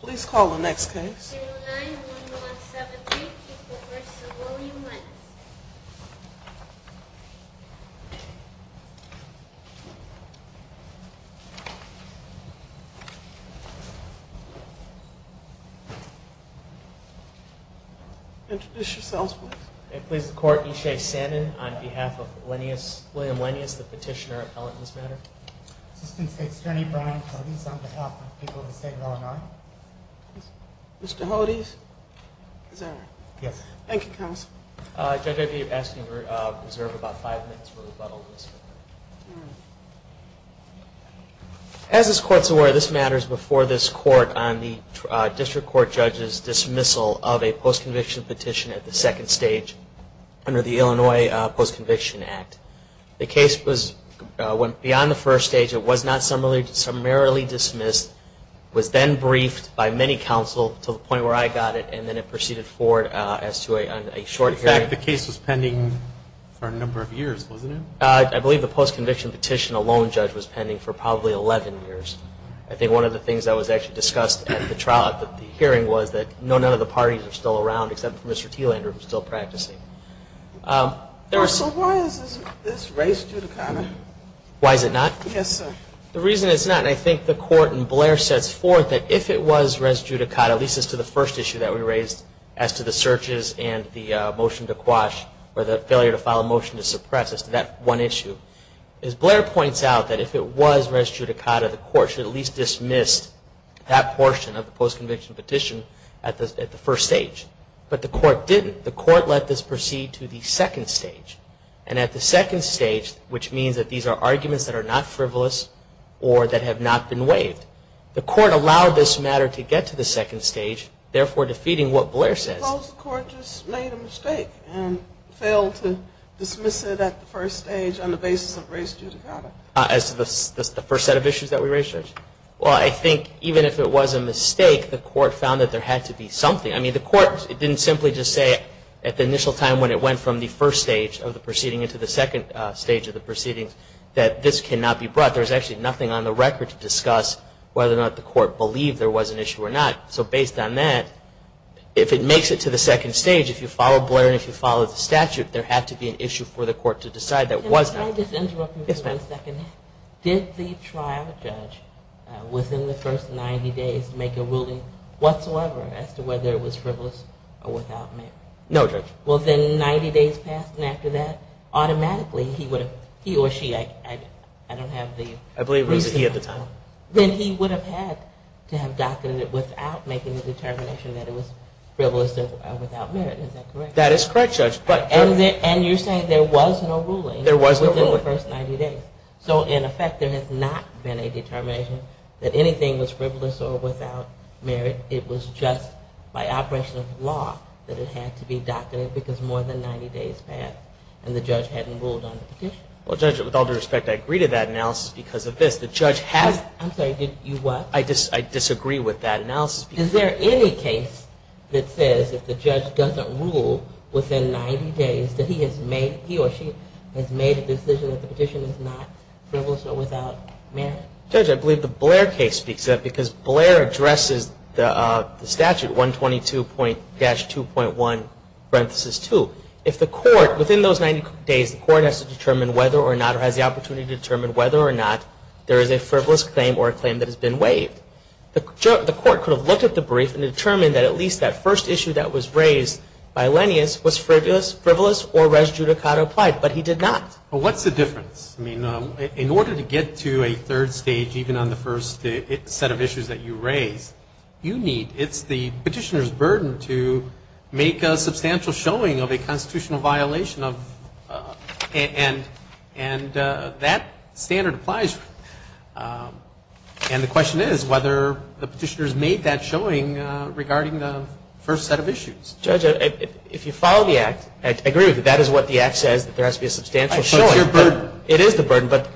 Please call the next case. State of Illinois, 1173, people v. William Lenius. Introduce yourselves, please. It pleases the Court, E. J. Sannin on behalf of William Lenius, the petitioner appellate in this matter. Assistant State's Attorney Brian Hodes on behalf of the people of the State of Illinois. Mr. Hodes? Thank you, Counsel. Judge, I'd be asking you to reserve about five minutes for rebuttal. As this Court is aware, this matters before this Court on the District Court Judge's dismissal of a post-conviction petition at the second stage under the Illinois Post-Conviction Act. The case went beyond the first stage. It was not summarily dismissed. It was then briefed by many counsel to the point where I got it, and then it proceeded forward as to a short hearing. In fact, the case was pending for a number of years, wasn't it? I believe the post-conviction petition alone, Judge, was pending for probably 11 years. I think one of the things that was actually discussed at the hearing was that none of the parties were still around except for Mr. Thielander, who was still practicing. Counsel, why is this res judicata? Why is it not? Yes, sir. The reason it's not, and I think the Court and Blair sets forth that if it was res judicata, at least as to the first issue that we raised as to the searches and the motion to quash or the failure to file a motion to suppress as to that one issue. As Blair points out, that if it was res judicata, the Court should at least dismiss that portion of the post-conviction petition at the first stage. But the Court didn't. The Court let this proceed to the second stage. And at the second stage, which means that these are arguments that are not frivolous or that have not been waived, the Court allowed this matter to get to the second stage, therefore defeating what Blair says. Suppose the Court just made a mistake and failed to dismiss it at the first stage on the basis of res judicata? As to the first set of issues that we raised, Judge? Well, I think even if it was a mistake, the Court found that there had to be something. I mean, the Court didn't simply just say at the initial time when it went from the first stage of the proceeding into the second stage of the proceedings that this cannot be brought. There's actually nothing on the record to discuss whether or not the Court believed there was an issue or not. So based on that, if it makes it to the second stage, if you follow Blair and if you follow the statute, there had to be an issue for the Court to decide that wasn't. Could I just interrupt you for a second? Did the trial judge within the first 90 days make a ruling whatsoever as to whether it was frivolous or without merit? No, Judge. Well, then 90 days passed, and after that, automatically, he or she, I don't have the... I believe it was he at the time. Then he would have had to have doctored it without making the determination that it was frivolous or without merit. Is that correct? That is correct, Judge. And you're saying there was no ruling? There was no ruling. Within the first 90 days. So in effect, there has not been a determination that anything was frivolous or without merit. It was just by operation of law that it had to be doctored because more than 90 days passed, and the judge hadn't ruled on the petition. Well, Judge, with all due respect, I agree to that analysis because of this. The judge has... I'm sorry. You what? I disagree with that analysis. Is there any case that says if the judge doesn't rule within 90 days that he or she has made a decision that the petition is not frivolous or without merit? Judge, I believe the Blair case speaks to that because Blair addresses the statute, 122-2.1, parenthesis 2. If the court, within those 90 days, the court has to determine whether or not or has the opportunity to determine whether or not there is a frivolous claim or a claim that has been waived, the court could have looked at the brief and determined that at least that first issue that was raised, bilineous, was frivolous or res judicata applied. But he did not. Well, what's the difference? I mean, in order to get to a third stage, even on the first set of issues that you raised, you need... It's the petitioner's burden to make a substantial showing of a constitutional violation of... And that standard applies. And the question is whether the petitioner has made that showing regarding the first set of issues. Judge, if you follow the Act, I agree with you that that is what the Act says, that there has to be a substantial showing. It's your burden. It is the burden, but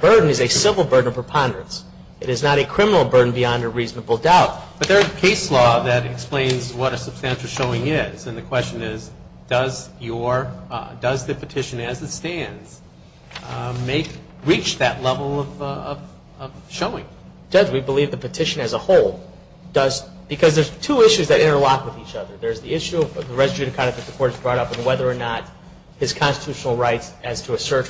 burden is a civil burden of preponderance. It is not a criminal burden beyond a reasonable doubt. But there is a case law that explains what a substantial showing is. And the question is, does the petition as it stands reach that level of showing? Judge, we believe the petition as a whole does, because there's two issues that interlock with each other. There's the issue of the res judicata that the court has brought up and whether or not his constitutional rights as to a search,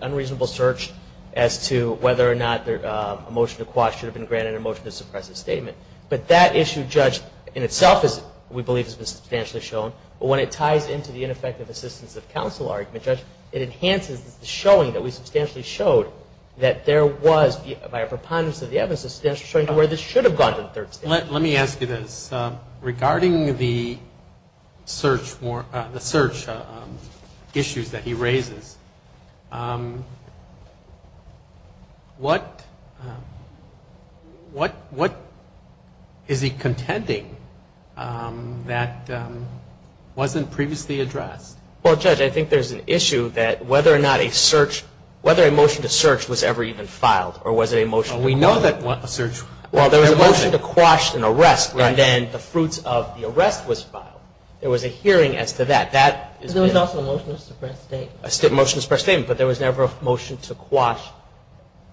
unreasonable search as to whether or not a motion to quash should have been granted and a motion to suppress a statement. But that issue, Judge, in itself we believe has been substantially shown. But when it ties into the ineffective assistance of counsel argument, Judge, it enhances the showing that we substantially showed that there was, by a preponderance of the evidence, a substantial showing of where this should have gone to the third stage. Let me ask you this. Regarding the search issues that he raises, what is he contending that wasn't previously addressed? Well, Judge, I think there's an issue that whether or not a search, whether a motion to search was ever even filed or was it a motion to quash a search. Well, there was a motion to quash an arrest and then the fruits of the arrest was filed. There was a hearing as to that. There was also a motion to suppress a statement. A motion to suppress a statement, but there was never a motion to quash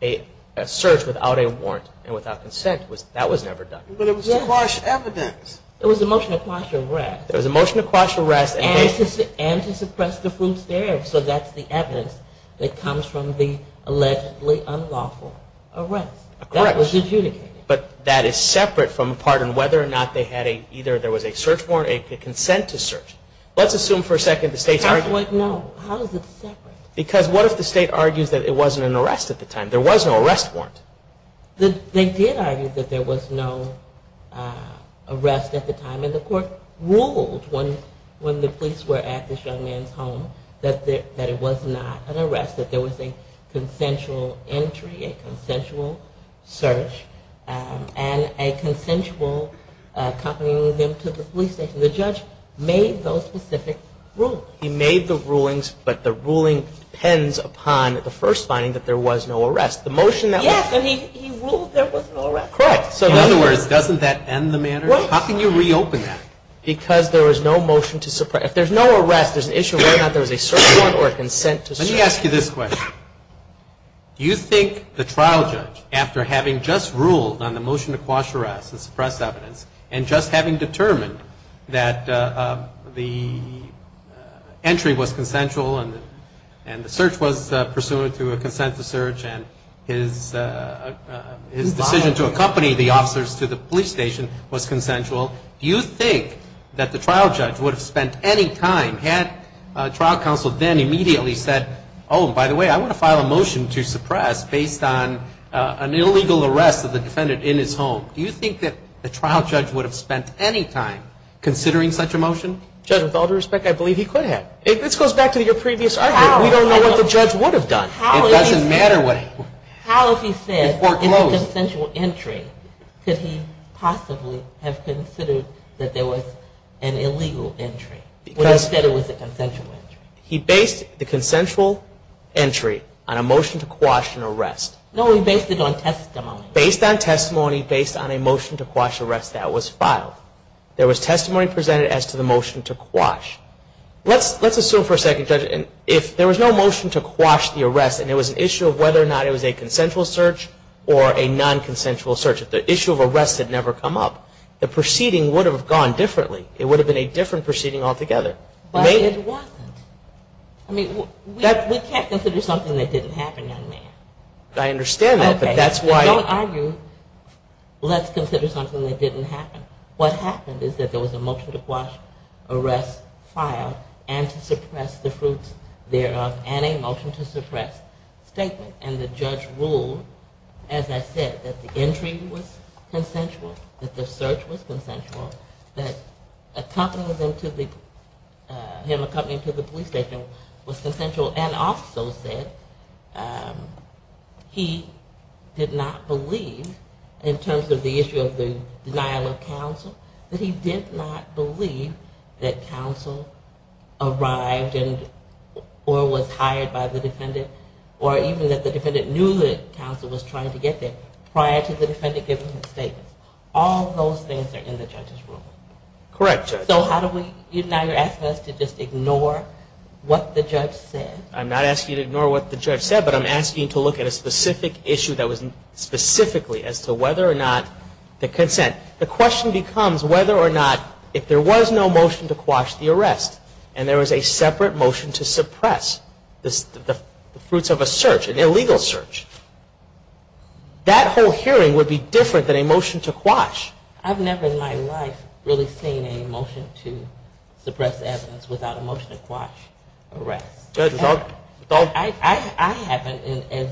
a search without a warrant and without consent. That was never done. But it was to quash evidence. It was a motion to quash an arrest. It was a motion to quash an arrest. And to suppress the fruits there. So that's the evidence that comes from the allegedly unlawful arrest. Correct. That was adjudicated. But that is separate from whether or not there was a search warrant, a consent to search. Let's assume for a second the state's argument. No. How is it separate? Because what if the state argues that it wasn't an arrest at the time? There was no arrest warrant. They did argue that there was no arrest at the time. And the court ruled when the police were at this young man's home that it was not an arrest. That there was a consensual entry, a consensual search, and a consensual accompanying him to the police station. The judge made those specific rulings. He made the rulings, but the ruling depends upon the first finding that there was no arrest. Yes, and he ruled there was no arrest. Correct. So in other words, doesn't that end the matter? How can you reopen that? Because there was no motion to suppress. If there's no arrest, there's an issue of whether or not there was a search warrant or a consent to search. Let me ask you this question. Do you think the trial judge, after having just ruled on the motion to quash arrests and suppress evidence, and just having determined that the entry was consensual and the search was pursuant to a consent to search and his decision to accompany the officers to the police station was consensual, do you think that the trial judge would have spent any time, had trial counsel then immediately said, oh, by the way, I want to file a motion to suppress based on an illegal arrest of the defendant in his home. Do you think that the trial judge would have spent any time considering such a motion? Judge, with all due respect, I believe he could have. This goes back to your previous argument. We don't know what the judge would have done. It doesn't matter what he would have done. How, if he said it's a consensual entry, could he possibly have considered that there was an illegal entry, when he said it was a consensual entry? He based the consensual entry on a motion to quash an arrest. No, he based it on testimony. Based on testimony based on a motion to quash arrests that was filed. There was testimony presented as to the motion to quash. Let's assume for a second, Judge, if there was no motion to quash the arrest, and it was an issue of whether or not it was a consensual search or a non-consensual search, if the issue of arrest had never come up, the proceeding would have gone differently. It would have been a different proceeding altogether. But it wasn't. I mean, we can't consider something that didn't happen, young man. I understand that, but that's why... Okay, don't argue. Let's consider something that didn't happen. What happened is that there was a motion to quash arrests filed and to suppress the fruits thereof and a motion to suppress statement. And the judge ruled, as I said, that the entry was consensual, that the search was consensual, that him accompanying to the police station was consensual, and also said he did not believe, in terms of the issue of the denial of counsel, that he did not believe that counsel arrived or was hired by the defendant or even that the defendant knew that counsel was trying to get there prior to the defendant giving his statement. All those things are in the judge's rule. Correct, Judge. So now you're asking us to just ignore what the judge said? I'm not asking you to ignore what the judge said, but I'm asking you to look at a specific issue that was specifically as to whether or not the consent. The question becomes whether or not if there was no motion to quash the arrest and there was a separate motion to suppress the fruits of a search, an illegal search, I've never in my life really seen a motion to suppress evidence without a motion to quash arrest. I haven't as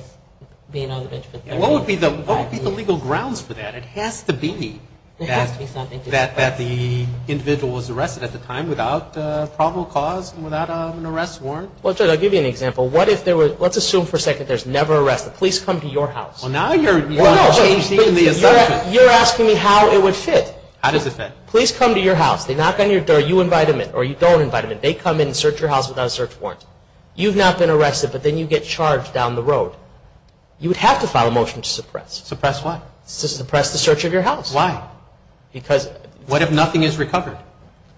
being on the bench for 30 years. What would be the legal grounds for that? It has to be that the individual was arrested at the time without probable cause and without an arrest warrant. Well, Judge, I'll give you an example. Let's assume for a second there's never an arrest. The police come to your house. Well, now you're changing the assumption. You're asking me how it would fit. How does it fit? Police come to your house. They knock on your door. You invite them in or you don't invite them in. They come in and search your house without a search warrant. You've not been arrested, but then you get charged down the road. You would have to file a motion to suppress. Suppress what? To suppress the search of your house. Why? Because... What if nothing is recovered?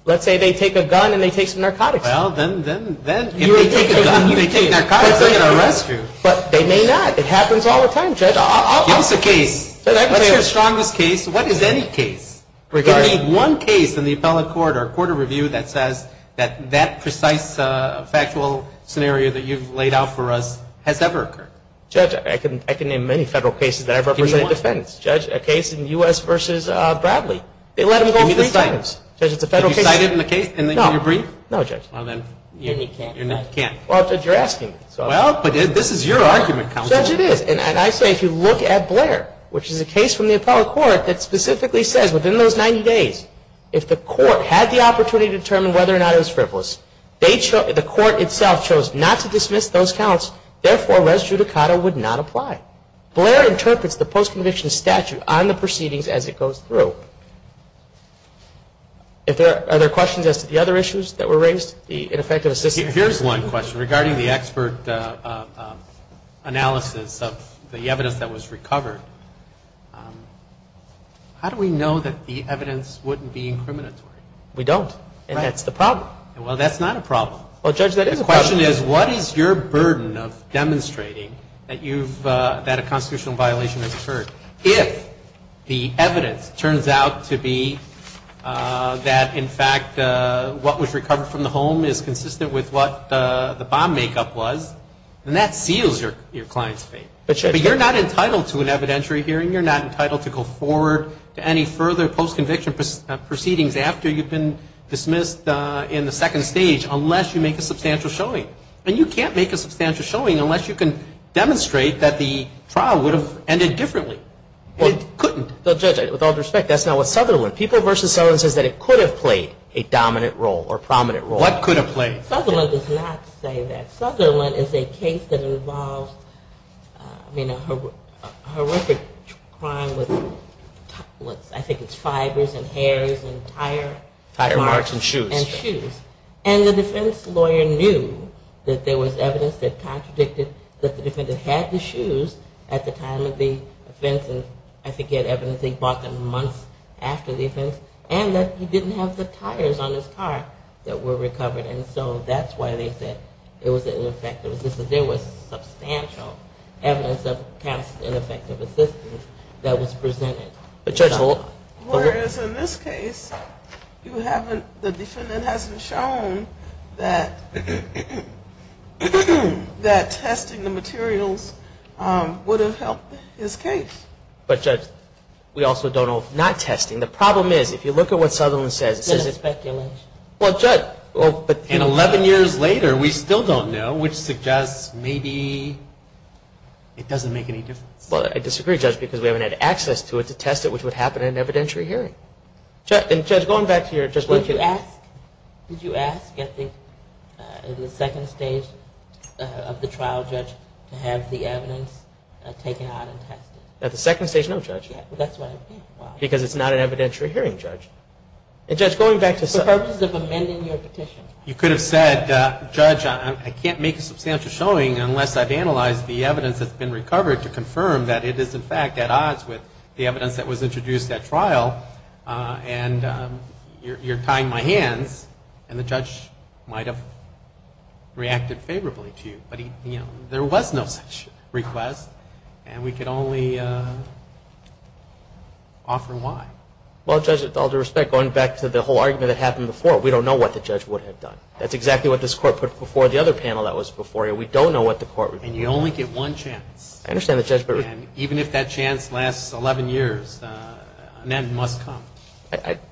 Let's say they take a gun and they take some narcotics. Well, then, then, then... If they take a gun and they take narcotics, they're going to arrest you. But they may not. It happens all the time, Judge. Give us a case. What's your strongest case? What is any case? Give me one case in the appellate court or court of review that says that that precise factual scenario that you've laid out for us has ever occurred. Judge, I can name many federal cases that I've represented in defense. Give me one. Judge, a case in the U.S. v. Bradley. They let him go three times. Give me the cite. Judge, it's a federal case. Can you cite it in the case and then can you bring it? No. No, Judge. Well, then you can't. You can't. Well, Judge, you're asking me. Well, but this is your argument, Counsel. Judge, it is. And I say if you look at Blair, which is a case from the appellate court that specifically says, within those 90 days, if the court had the opportunity to determine whether or not it was frivolous, the court itself chose not to dismiss those counts. Therefore, res judicata would not apply. Blair interprets the post-conviction statute on the proceedings as it goes through. Are there questions as to the other issues that were raised, the ineffective assistance? Here's one question regarding the expert analysis of the evidence that was recovered. How do we know that the evidence wouldn't be incriminatory? We don't. And that's the problem. Well, that's not a problem. Well, Judge, that is a problem. The question is, what is your burden of demonstrating that a constitutional violation has occurred if the evidence turns out to be that, in fact, what was recovered from the home is consistent with what the bomb makeup was, and that seals your client's fate? But you're not entitled to an evidentiary hearing. You're not entitled to go forward to any further post-conviction proceedings after you've been dismissed in the second stage unless you make a substantial showing. And you can't make a substantial showing unless you can demonstrate that the trial would have ended differently. It couldn't. Well, Judge, with all due respect, that's not what Sutherland, People v. Sutherland says that it could have played a dominant role or prominent role. What could have played? Sutherland does not say that. Sutherland is a case that involves a horrific crime with, I think it's fibers and hairs and tire marks. Tire marks and shoes. And shoes. That there was evidence that contradicted that the defendant had the shoes at the time of the offense, and I think he had evidence that he bought them months after the offense, and that he didn't have the tires on his car that were recovered. And so that's why they said it was ineffective. There was substantial evidence of ineffective assistance that was presented. But, Judge, hold on. Whereas, in this case, the defendant hasn't shown that testing the materials would have helped his case. But, Judge, we also don't know if not testing. The problem is, if you look at what Sutherland says, it says it's speculation. Well, Judge. And 11 years later, we still don't know, which suggests maybe it doesn't make any difference. Well, I disagree, Judge, because we haven't had access to it to test it, which would happen in an evidentiary hearing. And, Judge, going back to your question. Did you ask at the second stage of the trial, Judge, to have the evidence taken out and tested? At the second stage, no, Judge. That's what I mean. Why? Because it's not an evidentiary hearing, Judge. And, Judge, going back to Sutherland. For purposes of amending your petition. You could have said, Judge, I can't make a substantial showing unless I've analyzed the evidence that's been recovered to confirm that it is, in fact, at odds with the evidence that was introduced at trial. And you're tying my hands. And the judge might have reacted favorably to you. But, you know, there was no such request. And we could only offer why. Well, Judge, with all due respect, going back to the whole argument that happened before. We don't know what the judge would have done. That's exactly what this Court put before the other panel that was before you. We don't know what the Court would have done. And you only get one chance. I understand that, Judge. And even if that chance lasts 11 years, an end must come.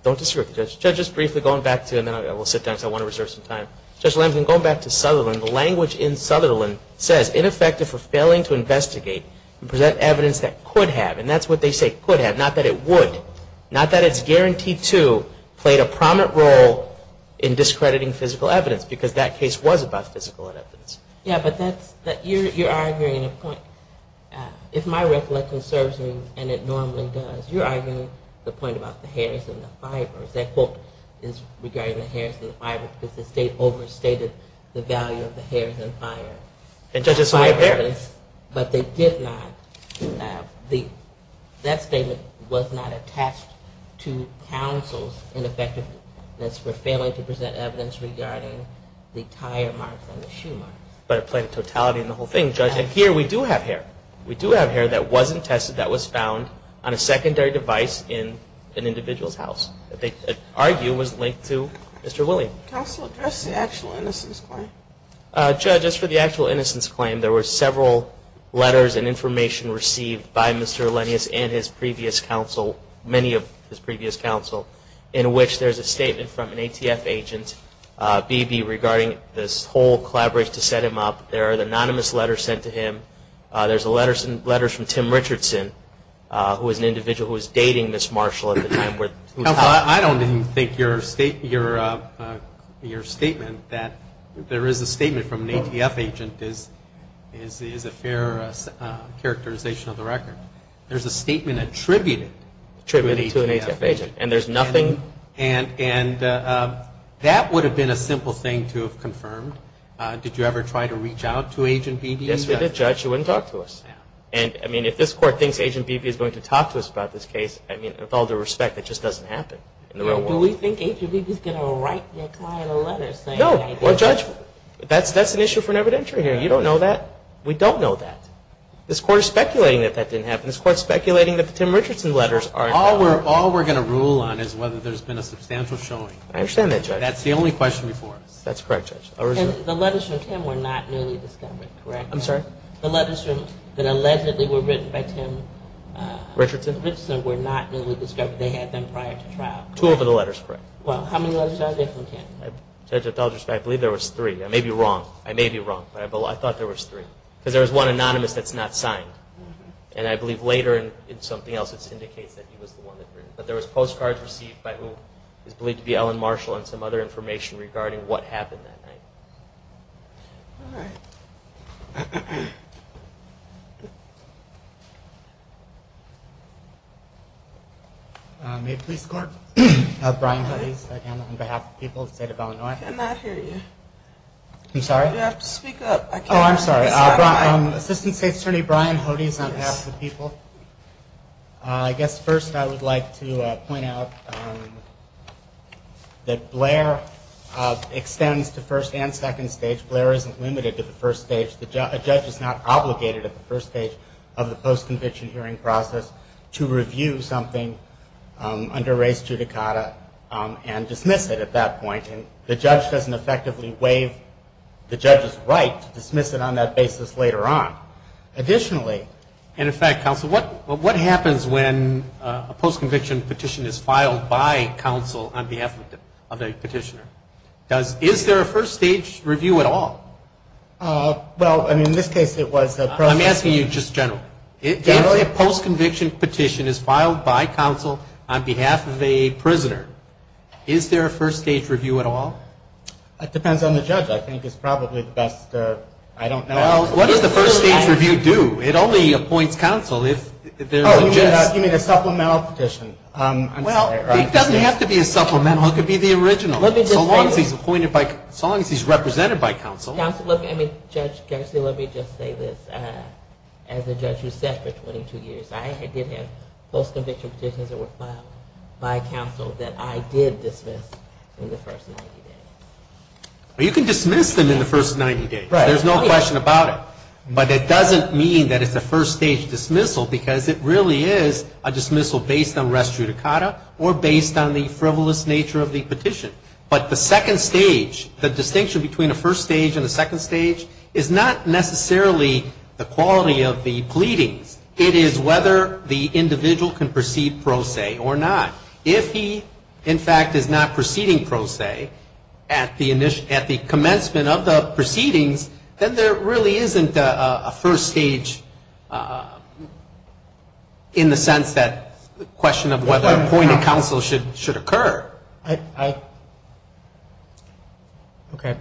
Don't disagree with me, Judge. Judge, just briefly going back to, and then I will sit down because I want to reserve some time. Judge Lansing, going back to Sutherland. The language in Sutherland says, ineffective for failing to investigate and present evidence that could have. And that's what they say could have. Not that it would. Not that it's guaranteed to play a prominent role in discrediting physical evidence. Because that case was about physical evidence. Yeah, but you're arguing a point. If my recollection serves me, and it normally does, you're arguing the point about the hairs and the fibers. That quote is regarding the hairs and the fibers because the State overstated the value of the hairs and fibers. And judges don't have hair. But they did not. That statement was not attached to counsel's ineffectiveness for failing to present evidence regarding the tire marks and the shoe marks. But it played a totality in the whole thing, Judge. And here we do have hair. We do have hair that wasn't tested, that was found on a secondary device in an individual's house. That they argue was linked to Mr. William. Counsel, address the actual innocence claim. Judge, as for the actual innocence claim, there were several letters and information received by Mr. Alenius and his previous counsel, many of his previous counsel, in which there's a statement from an ATF agent, BB, regarding this whole collaboration to set him up. There are anonymous letters sent to him. There's letters from Tim Richardson, who was an individual who was dating Ms. Marshall at the time. I don't even think your statement that there is a statement from an ATF agent is a fair characterization of the record. There's a statement attributed to an ATF agent. Attributed to an ATF agent. And there's nothing? Nothing. And that would have been a simple thing to have confirmed. Did you ever try to reach out to Agent BB? Yes, we did, Judge. He wouldn't talk to us. And, I mean, if this Court thinks Agent BB is going to talk to us about this case, I mean, with all due respect, that just doesn't happen in the real world. Do we think Agent BB is going to write their client a letter saying that Agent BB… No. Well, Judge, that's an issue for an evidentiary hearing. You don't know that? We don't know that. This Court is speculating that the Tim Richardson letters are in fact… All we're going to rule on is whether there's been a substantial showing. I understand that, Judge. That's the only question before us. That's correct, Judge. The letters from Tim were not newly discovered, correct? I'm sorry? The letters that allegedly were written by Tim Richardson were not newly discovered. They had them prior to trial. Two of the letters, correct. Well, how many letters are there from Tim? Judge, with all due respect, I believe there was three. I may be wrong. I may be wrong. But I thought there was three. Because there was one anonymous that's not signed. And I believe later in something else it indicates that he was the one that… But there was postcards received by who is believed to be Ellen Marshall and some other information regarding what happened that night. All right. Maid Police Corp. Brian Huddy on behalf of the people of the State of Illinois. I cannot hear you. I'm sorry? You have to speak up. I can't hear you. Oh, I'm sorry. Assistant State Attorney Brian Huddy is on behalf of the people. I guess first I would like to point out that Blair extends to first and second stage. Blair isn't limited to the first stage. A judge is not obligated at the first stage of the post-conviction hearing process to review something under res judicata and dismiss it at that point. And the judge doesn't effectively waive the judge's right to dismiss it on that basis later on. Additionally… And in fact, counsel, what happens when a post-conviction petition is filed by counsel on behalf of the petitioner? Is there a first stage review at all? Well, I mean, in this case it was… I'm asking you just generally. Generally a post-conviction petition is filed by counsel on behalf of a prisoner. Is there a first stage review at all? That depends on the judge. I think it's probably the best… I don't know. Well, what does the first stage review do? It only appoints counsel if there's a… Oh, you mean a supplemental petition. Well, it doesn't have to be a supplemental. It could be the original. Let me just say… So long as he's appointed by… so long as he's represented by counsel. Counsel, look, I mean, Judge Garcia, let me just say this. As a judge who sat for 22 years, I did have post-conviction petitions that were filed by counsel that I did dismiss in the first 90 days. Well, you can dismiss them in the first 90 days. There's no question about it. But it doesn't mean that it's a first stage dismissal because it really is a dismissal based on res judicata or based on the frivolous nature of the petition. But the second stage, the distinction between a first stage and a second stage, is not necessarily the quality of the pleadings. It is whether the individual can proceed pro se or not. If he, in fact, is not proceeding pro se at the commencement of the proceedings, then there really isn't a first stage in the sense that it's a question of whether appointed counsel should occur. I… Okay.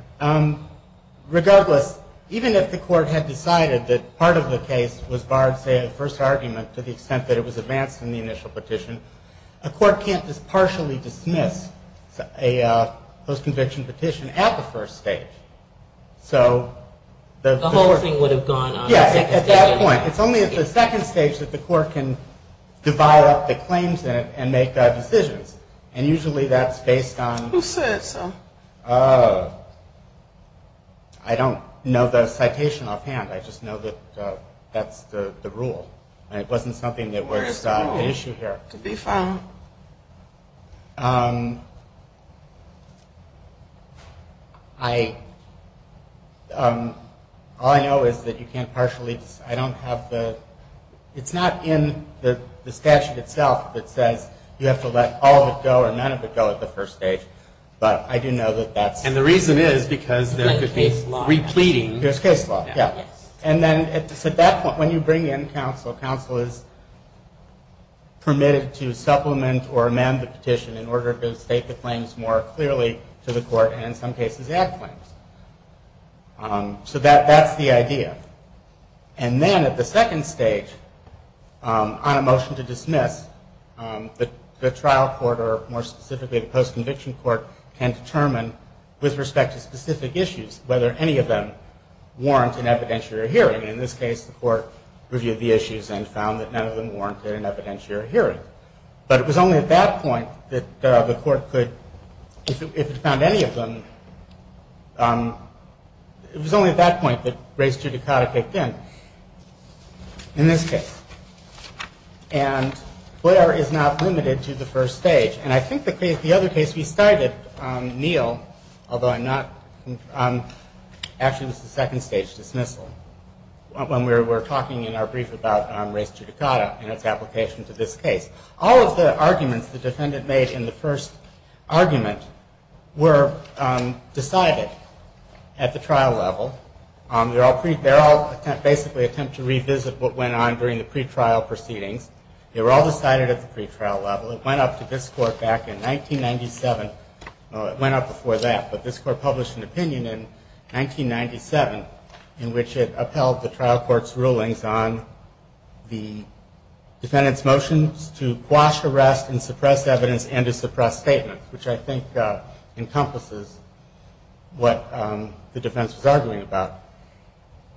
Regardless, even if the court had decided that part of the case was barred, say, in the first argument to the extent that it was advanced in the initial petition, a court can't just partially dismiss a post-conviction petition at the first stage. So… The whole thing would have gone on at the second stage. Yes, at that point. It's only at the second stage that the court can divide up the claims in it and make decisions. And usually that's based on… Who said so? I don't know the citation offhand. I just know that that's the rule. It wasn't something that was an issue here. To be found. I… All I know is that you can't partially… I don't have the… It's not in the statute itself that says you have to let all of it go or none of it go at the first stage. But I do know that that's… There's case law. Yes. And then at that point, when you bring in counsel, counsel is permitted to supplement or amend the petition in order to state the claims more clearly to the court and in some cases add claims. So that's the idea. And then at the second stage, on a motion to dismiss, the trial court, or more specifically the post-conviction court, can determine with respect to specific issues whether any of them warrant an evidentiary hearing. In this case, the court reviewed the issues and found that none of them warranted an evidentiary hearing. But it was only at that point that the court could… If it found any of them, it was only at that point that race judicata kicked in, in this case. And Blair is not limited to the first stage. And I think the other case we cited, Neil, although I'm not… Actually, it was the second stage dismissal, when we were talking in our brief about race judicata and its application to this case. All of the arguments the defendant made in the first argument were decided at the trial level. They're all basically an attempt to revisit what went on during the pretrial proceedings. They were all decided at the pretrial level. It went up to this court back in 1997. Well, it went up before that, but this court published an opinion in 1997, in which it upheld the trial court's rulings on the defendant's motions to quash arrest and suppress evidence and to suppress statements, which I think encompasses what the defense was arguing about.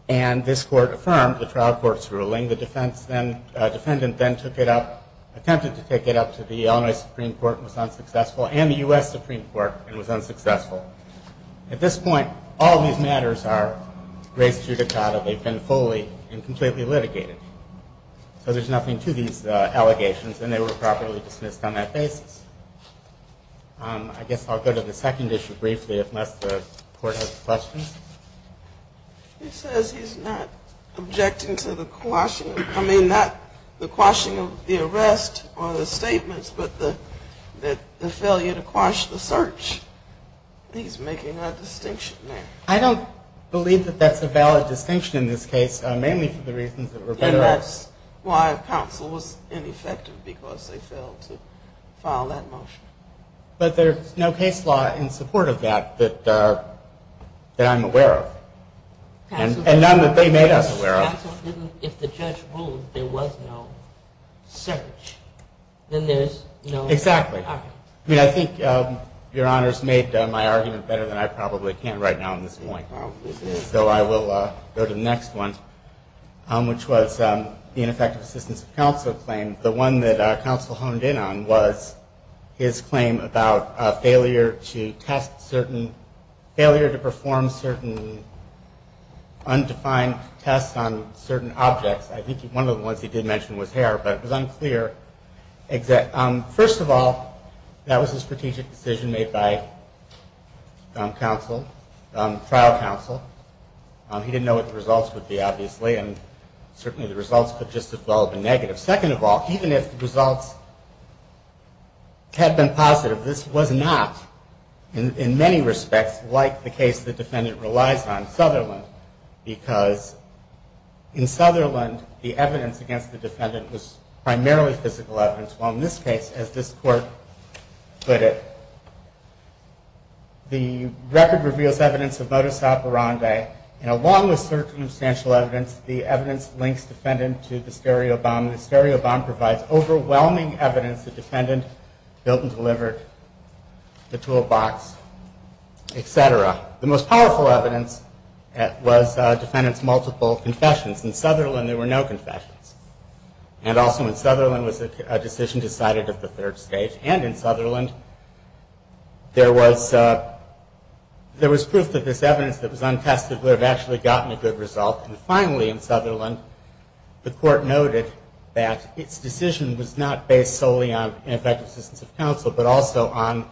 And this court affirmed the trial court's ruling. The defendant then took it up, attempted to take it up to the Illinois Supreme Court, and was unsuccessful, and the U.S. Supreme Court, and was unsuccessful. At this point, all these matters are race judicata. They've been fully and completely litigated. So there's nothing to these allegations, and they were properly dismissed on that basis. I guess I'll go to the second issue briefly, unless the court has questions. He says he's not objecting to the quashing. I mean, not the quashing of the arrest or the statements, but the failure to quash the search. He's making that distinction there. I don't believe that that's a valid distinction in this case, mainly for the reasons that Roberto asked. And that's why counsel was ineffective, because they failed to file that motion. But there's no case law in support of that that I'm aware of, and none that they made us aware of. If the judge ruled there was no search, then there's no charge. Exactly. I mean, I think Your Honor's made my argument better than I probably can right now at this point. So I will go to the next one, which was the ineffective assistance of counsel claim. The one that counsel honed in on was his claim about a failure to test certain, failure to perform certain undefined tests on certain objects. I think one of the ones he did mention was hair, but it was unclear. First of all, that was a strategic decision made by counsel, trial counsel. He didn't know what the results would be, obviously, and certainly the results could just as well have been negative. Second of all, even if the results had been positive, this was not, in many respects, like the case the defendant relies on, Sutherland, because in Sutherland, the evidence against the defendant was primarily physical evidence, while in this case, as this court put it, the record reveals evidence of modus operandi, and along with circumstantial evidence, the evidence links defendant to the stereo bomb. The stereo bomb provides overwhelming evidence the defendant built and delivered the toolbox, etc. The most powerful evidence was defendant's multiple confessions. In Sutherland, there were no confessions, and also in Sutherland was a decision decided at the third stage, and in Sutherland, there was proof that this evidence that was untested would have actually gotten a good result, and finally in Sutherland, the court noted that its decision was not based solely on ineffective assistance of counsel, but also on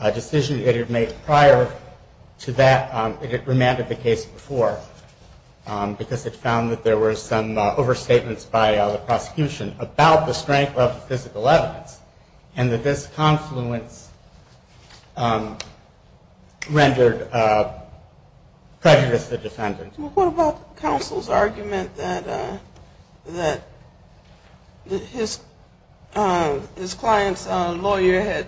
a decision it had made prior to that, it had remanded the case before, because it found that there were some overstatements by the prosecution about the strength of the physical evidence, and that this confluence rendered prejudice to the defendant. What about counsel's argument that his client's lawyer had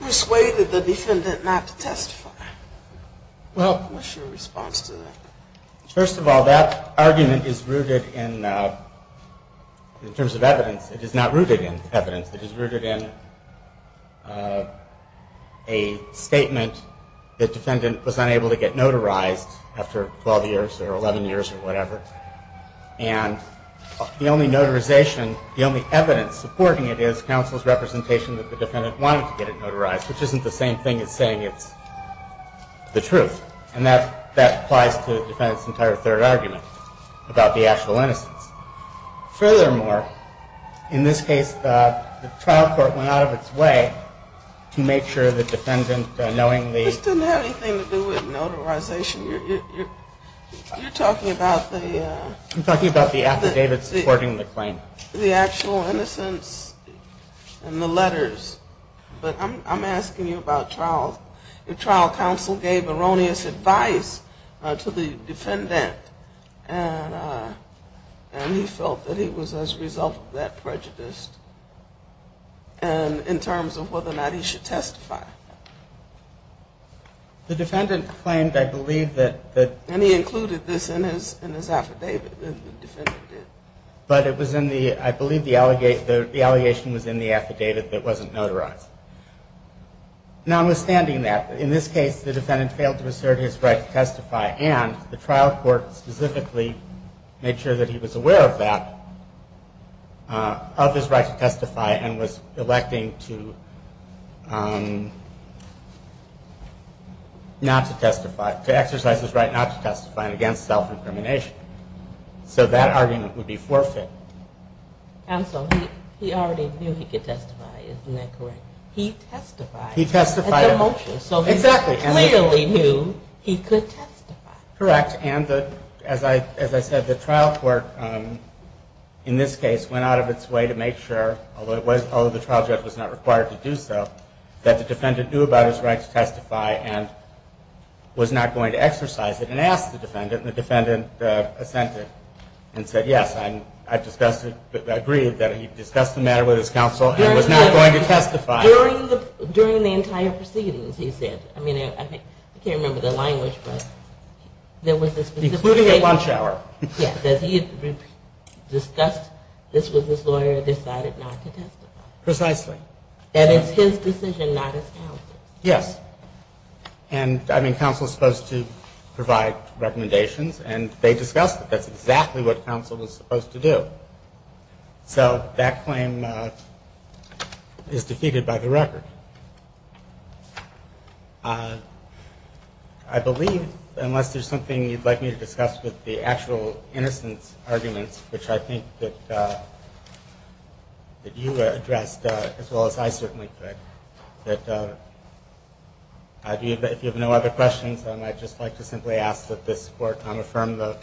persuaded the defendant not to testify? What's your response to that? First of all, that argument is rooted in, in terms of evidence, it is not rooted in evidence, it is rooted in a statement that the defendant was unable to get notarized after 12 years or 11 years or whatever, and the only notarization, the only evidence supporting it is counsel's representation that the defendant wanted to get it notarized, which isn't the same thing as saying it's the truth, and that applies to the defendant's entire third argument about the actual innocence. Furthermore, in this case, the trial court went out of its way to make sure the defendant, knowingly... This didn't have anything to do with notarization. You're talking about the... I'm talking about the affidavit supporting the claim. The actual innocence in the letters. But I'm asking you about trial. Your trial counsel gave erroneous advice to the defendant, and he felt that he was as a result of that prejudiced, in terms of whether or not he should testify. The defendant claimed, I believe, that... And he included this in his affidavit, the defendant did. But it was in the... I believe the allegation was in the affidavit that wasn't notarized. Notwithstanding that, in this case, the defendant failed to assert his right to testify, and the trial court specifically made sure that he was aware of that, of his right to testify, and was electing to... not to testify, to exercise his right not to testify against self-incrimination. So that argument would be forfeit. And so he already knew he could testify, isn't that correct? He testified. He testified. Exactly. He clearly knew he could testify. Correct. And as I said, the trial court, in this case, went out of its way to make sure, although the trial judge was not required to do so, that the defendant knew about his right to testify and was not going to exercise it, and asked the defendant, and the defendant assented and said, yes, I agree that he discussed the matter with his counsel and was not going to testify. During the entire proceedings, he said. I mean, I can't remember the language, but there was this... Including at lunch hour. Yes, that he had discussed this with his lawyer and decided not to testify. Precisely. And it's his decision, not his counsel's. Yes. And, I mean, counsel is supposed to provide recommendations, and they discussed it. That's exactly what counsel was supposed to do. So that claim is defeated by the record. I believe, unless there's something you'd like me to discuss with the actual innocence arguments, which I think that you addressed, as well as I certainly did, that if you have no other questions, I'd just like to simply ask that this Court affirm the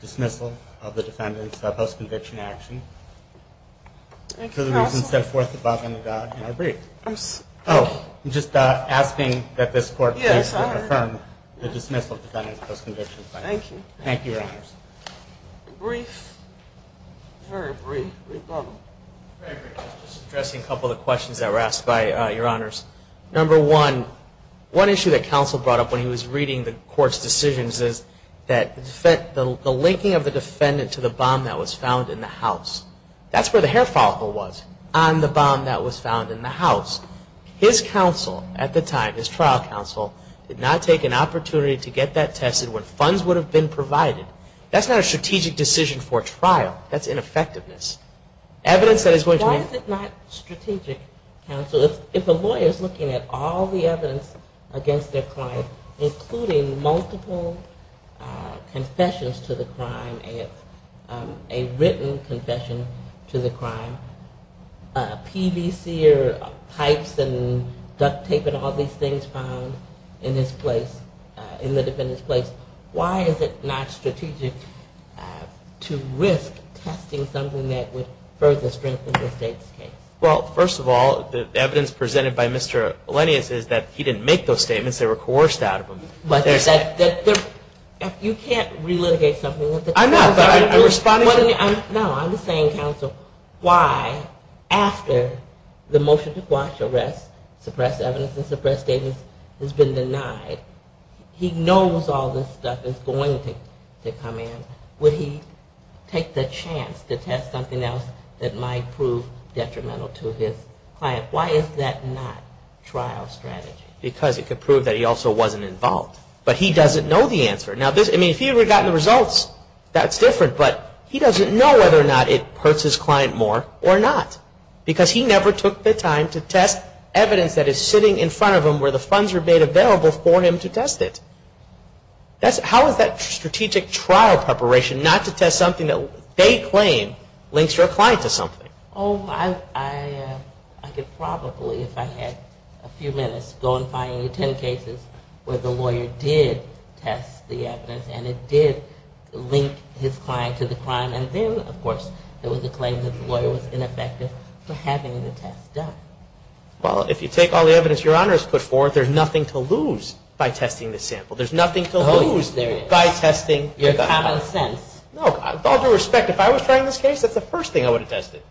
dismissal of the defendant's post-conviction action for the reasons set forth above in our brief. Oh, I'm just asking that this Court affirm the dismissal of the defendant's post-conviction action. Thank you. Thank you, Your Honors. Brief. Very brief. Very brief. Just addressing a couple of the questions that were asked by Your Honors. Number one, one issue that counsel brought up when he was reading the Court's decisions is that the linking of the defendant to the bomb that was found in the house. That's where the hair follicle was, on the bomb that was found in the house. His counsel at the time, his trial counsel, did not take an opportunity to get that tested when funds would have been provided. That's not a strategic decision for a trial. That's ineffectiveness. Why is it not strategic, counsel? If a lawyer is looking at all the evidence against their client, including multiple confessions to the crime, a written confession to the crime, PVC or pipes and duct tape and all these things found in the defendant's place, why is it not strategic to risk testing something that would further strengthen the state's case? Well, first of all, the evidence presented by Mr. Lennius is that he didn't make those statements. They were coerced out of him. If you can't re-litigate something... No, I'm just saying, counsel, why, after the motion to quash arrest, suppress evidence and suppress statements has been denied, he knows all this stuff is going to come in. Would he take the chance to test something else that might prove detrimental to his client? Why is that not trial strategy? Because it could prove that he also wasn't involved. But he doesn't know the answer. Now, if he had gotten the results, that's different, but he doesn't know whether or not it hurts his client more or not because he never took the time to test evidence that is sitting in front of him where the funds were made available for him to test it. How is that strategic trial preparation not to test something that they claim links your client to something? Oh, I could probably, if I had a few minutes, go and find 10 cases where the lawyer did test the evidence and it did link his client to the crime and then, of course, there was a claim that the lawyer was ineffective for having the test done. Well, if you take all the evidence Your Honor has put forth, there's nothing to lose by testing the sample. There's nothing to lose by testing the gunpowder. Your common sense. No, with all due respect, if I was trying this case, that's the first thing I would have tested.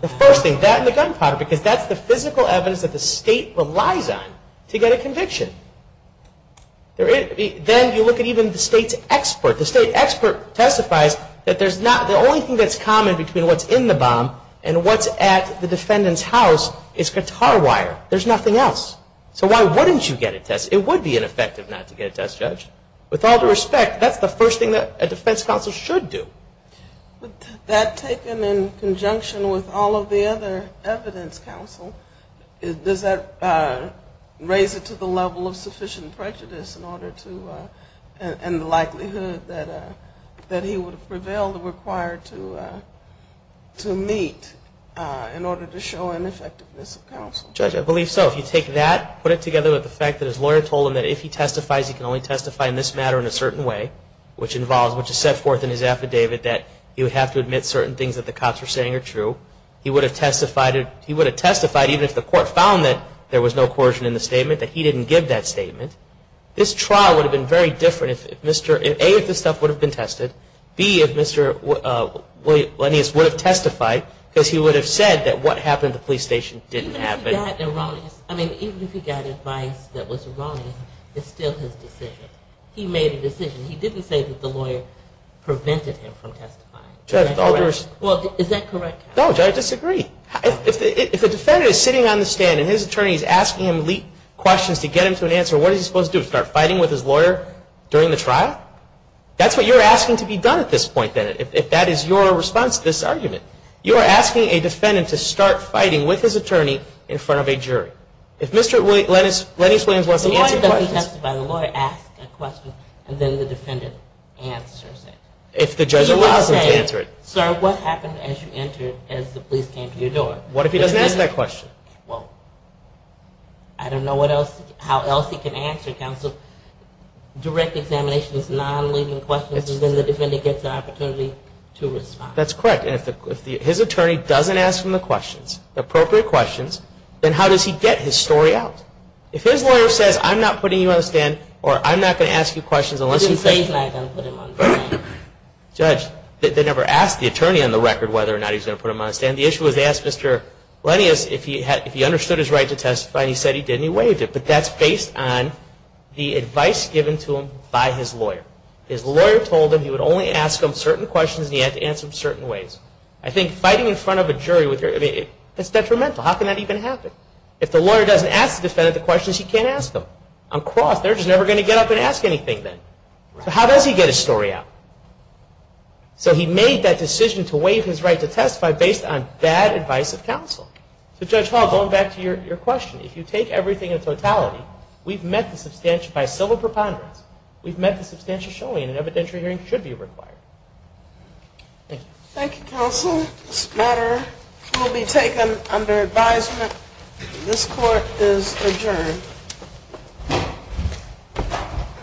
The first thing, that and the gunpowder because that's the physical evidence that the state relies on to get a conviction. Then you look at even the state's expert. The state expert testifies that the only thing that's common between what's in the bomb and what's at the defendant's house is guitar wire. There's nothing else. So why wouldn't you get a test? It would be ineffective not to get a test, Judge. With all due respect, that's the first thing that a defense counsel should do. That taken in conjunction with all of the other evidence, counsel, does that raise it to the level of sufficient prejudice in order to and the likelihood that he would prevail required to meet in order to show an effectiveness of counsel? Judge, I believe so. If you take that, put it together with the fact that his lawyer told him that if he testifies, he can only testify in this matter in a certain way, which involves, which is set forth in his affidavit that he would have to admit certain things that the cops were saying are true. He would have testified even if the court found that there was no coercion in the statement, that he didn't give that statement. This trial would have been very different if A, if this stuff would have been tested, B, if Mr. Linnaeus would have testified because he would have said that what happened at the police station didn't happen. Even if he got erroneous, I mean, even if he got advice that was erroneous, it's still his decision. He made a decision. He didn't say that the lawyer prevented him from testifying. Judge, I disagree. If a defendant is sitting on the stand and his attorney is asking him questions to get him to an answer, what is he supposed to do, start fighting with his lawyer during the trial? That's what you're asking to be done at this point, Bennett. If that is your response to this argument, you are asking a defendant to start fighting with his attorney in front of a jury. If Mr. Linnaeus wants to answer questions... The lawyer doesn't testify. The lawyer asks a question and then the defendant answers it. If the judge allows him to answer it. Sir, what happened as you entered as the police came to your door? What if he doesn't ask that question? Well, I don't know how else he can answer, counsel. Direct examination is non-leaving questions and then the defendant gets an opportunity to respond. That's correct. And if his attorney doesn't ask him the questions, appropriate questions, then how does he get his story out? If his lawyer says, I'm not putting you on the stand or I'm not going to ask you questions unless you say... He didn't say he's not going to put him on the stand. Judge, they never asked the attorney on the record whether or not he's going to put him on the stand. But that's based on the advice given to him by his lawyer. His lawyer told him he would only ask him certain questions and he had to answer them certain ways. I think fighting in front of a jury, that's detrimental. How can that even happen? If the lawyer doesn't ask the defendant the questions, he can't ask them. On cross, they're just never going to get up and ask anything then. So how does he get his story out? So he made that decision to waive his right to testify based on bad advice of counsel. So Judge Hall, going back to your question, if you take everything in totality, we've met the substantial... By civil preponderance, we've met the substantial showing an evidentiary hearing should be required. Thank you, counsel. This matter will be taken under advisement. This court is adjourned.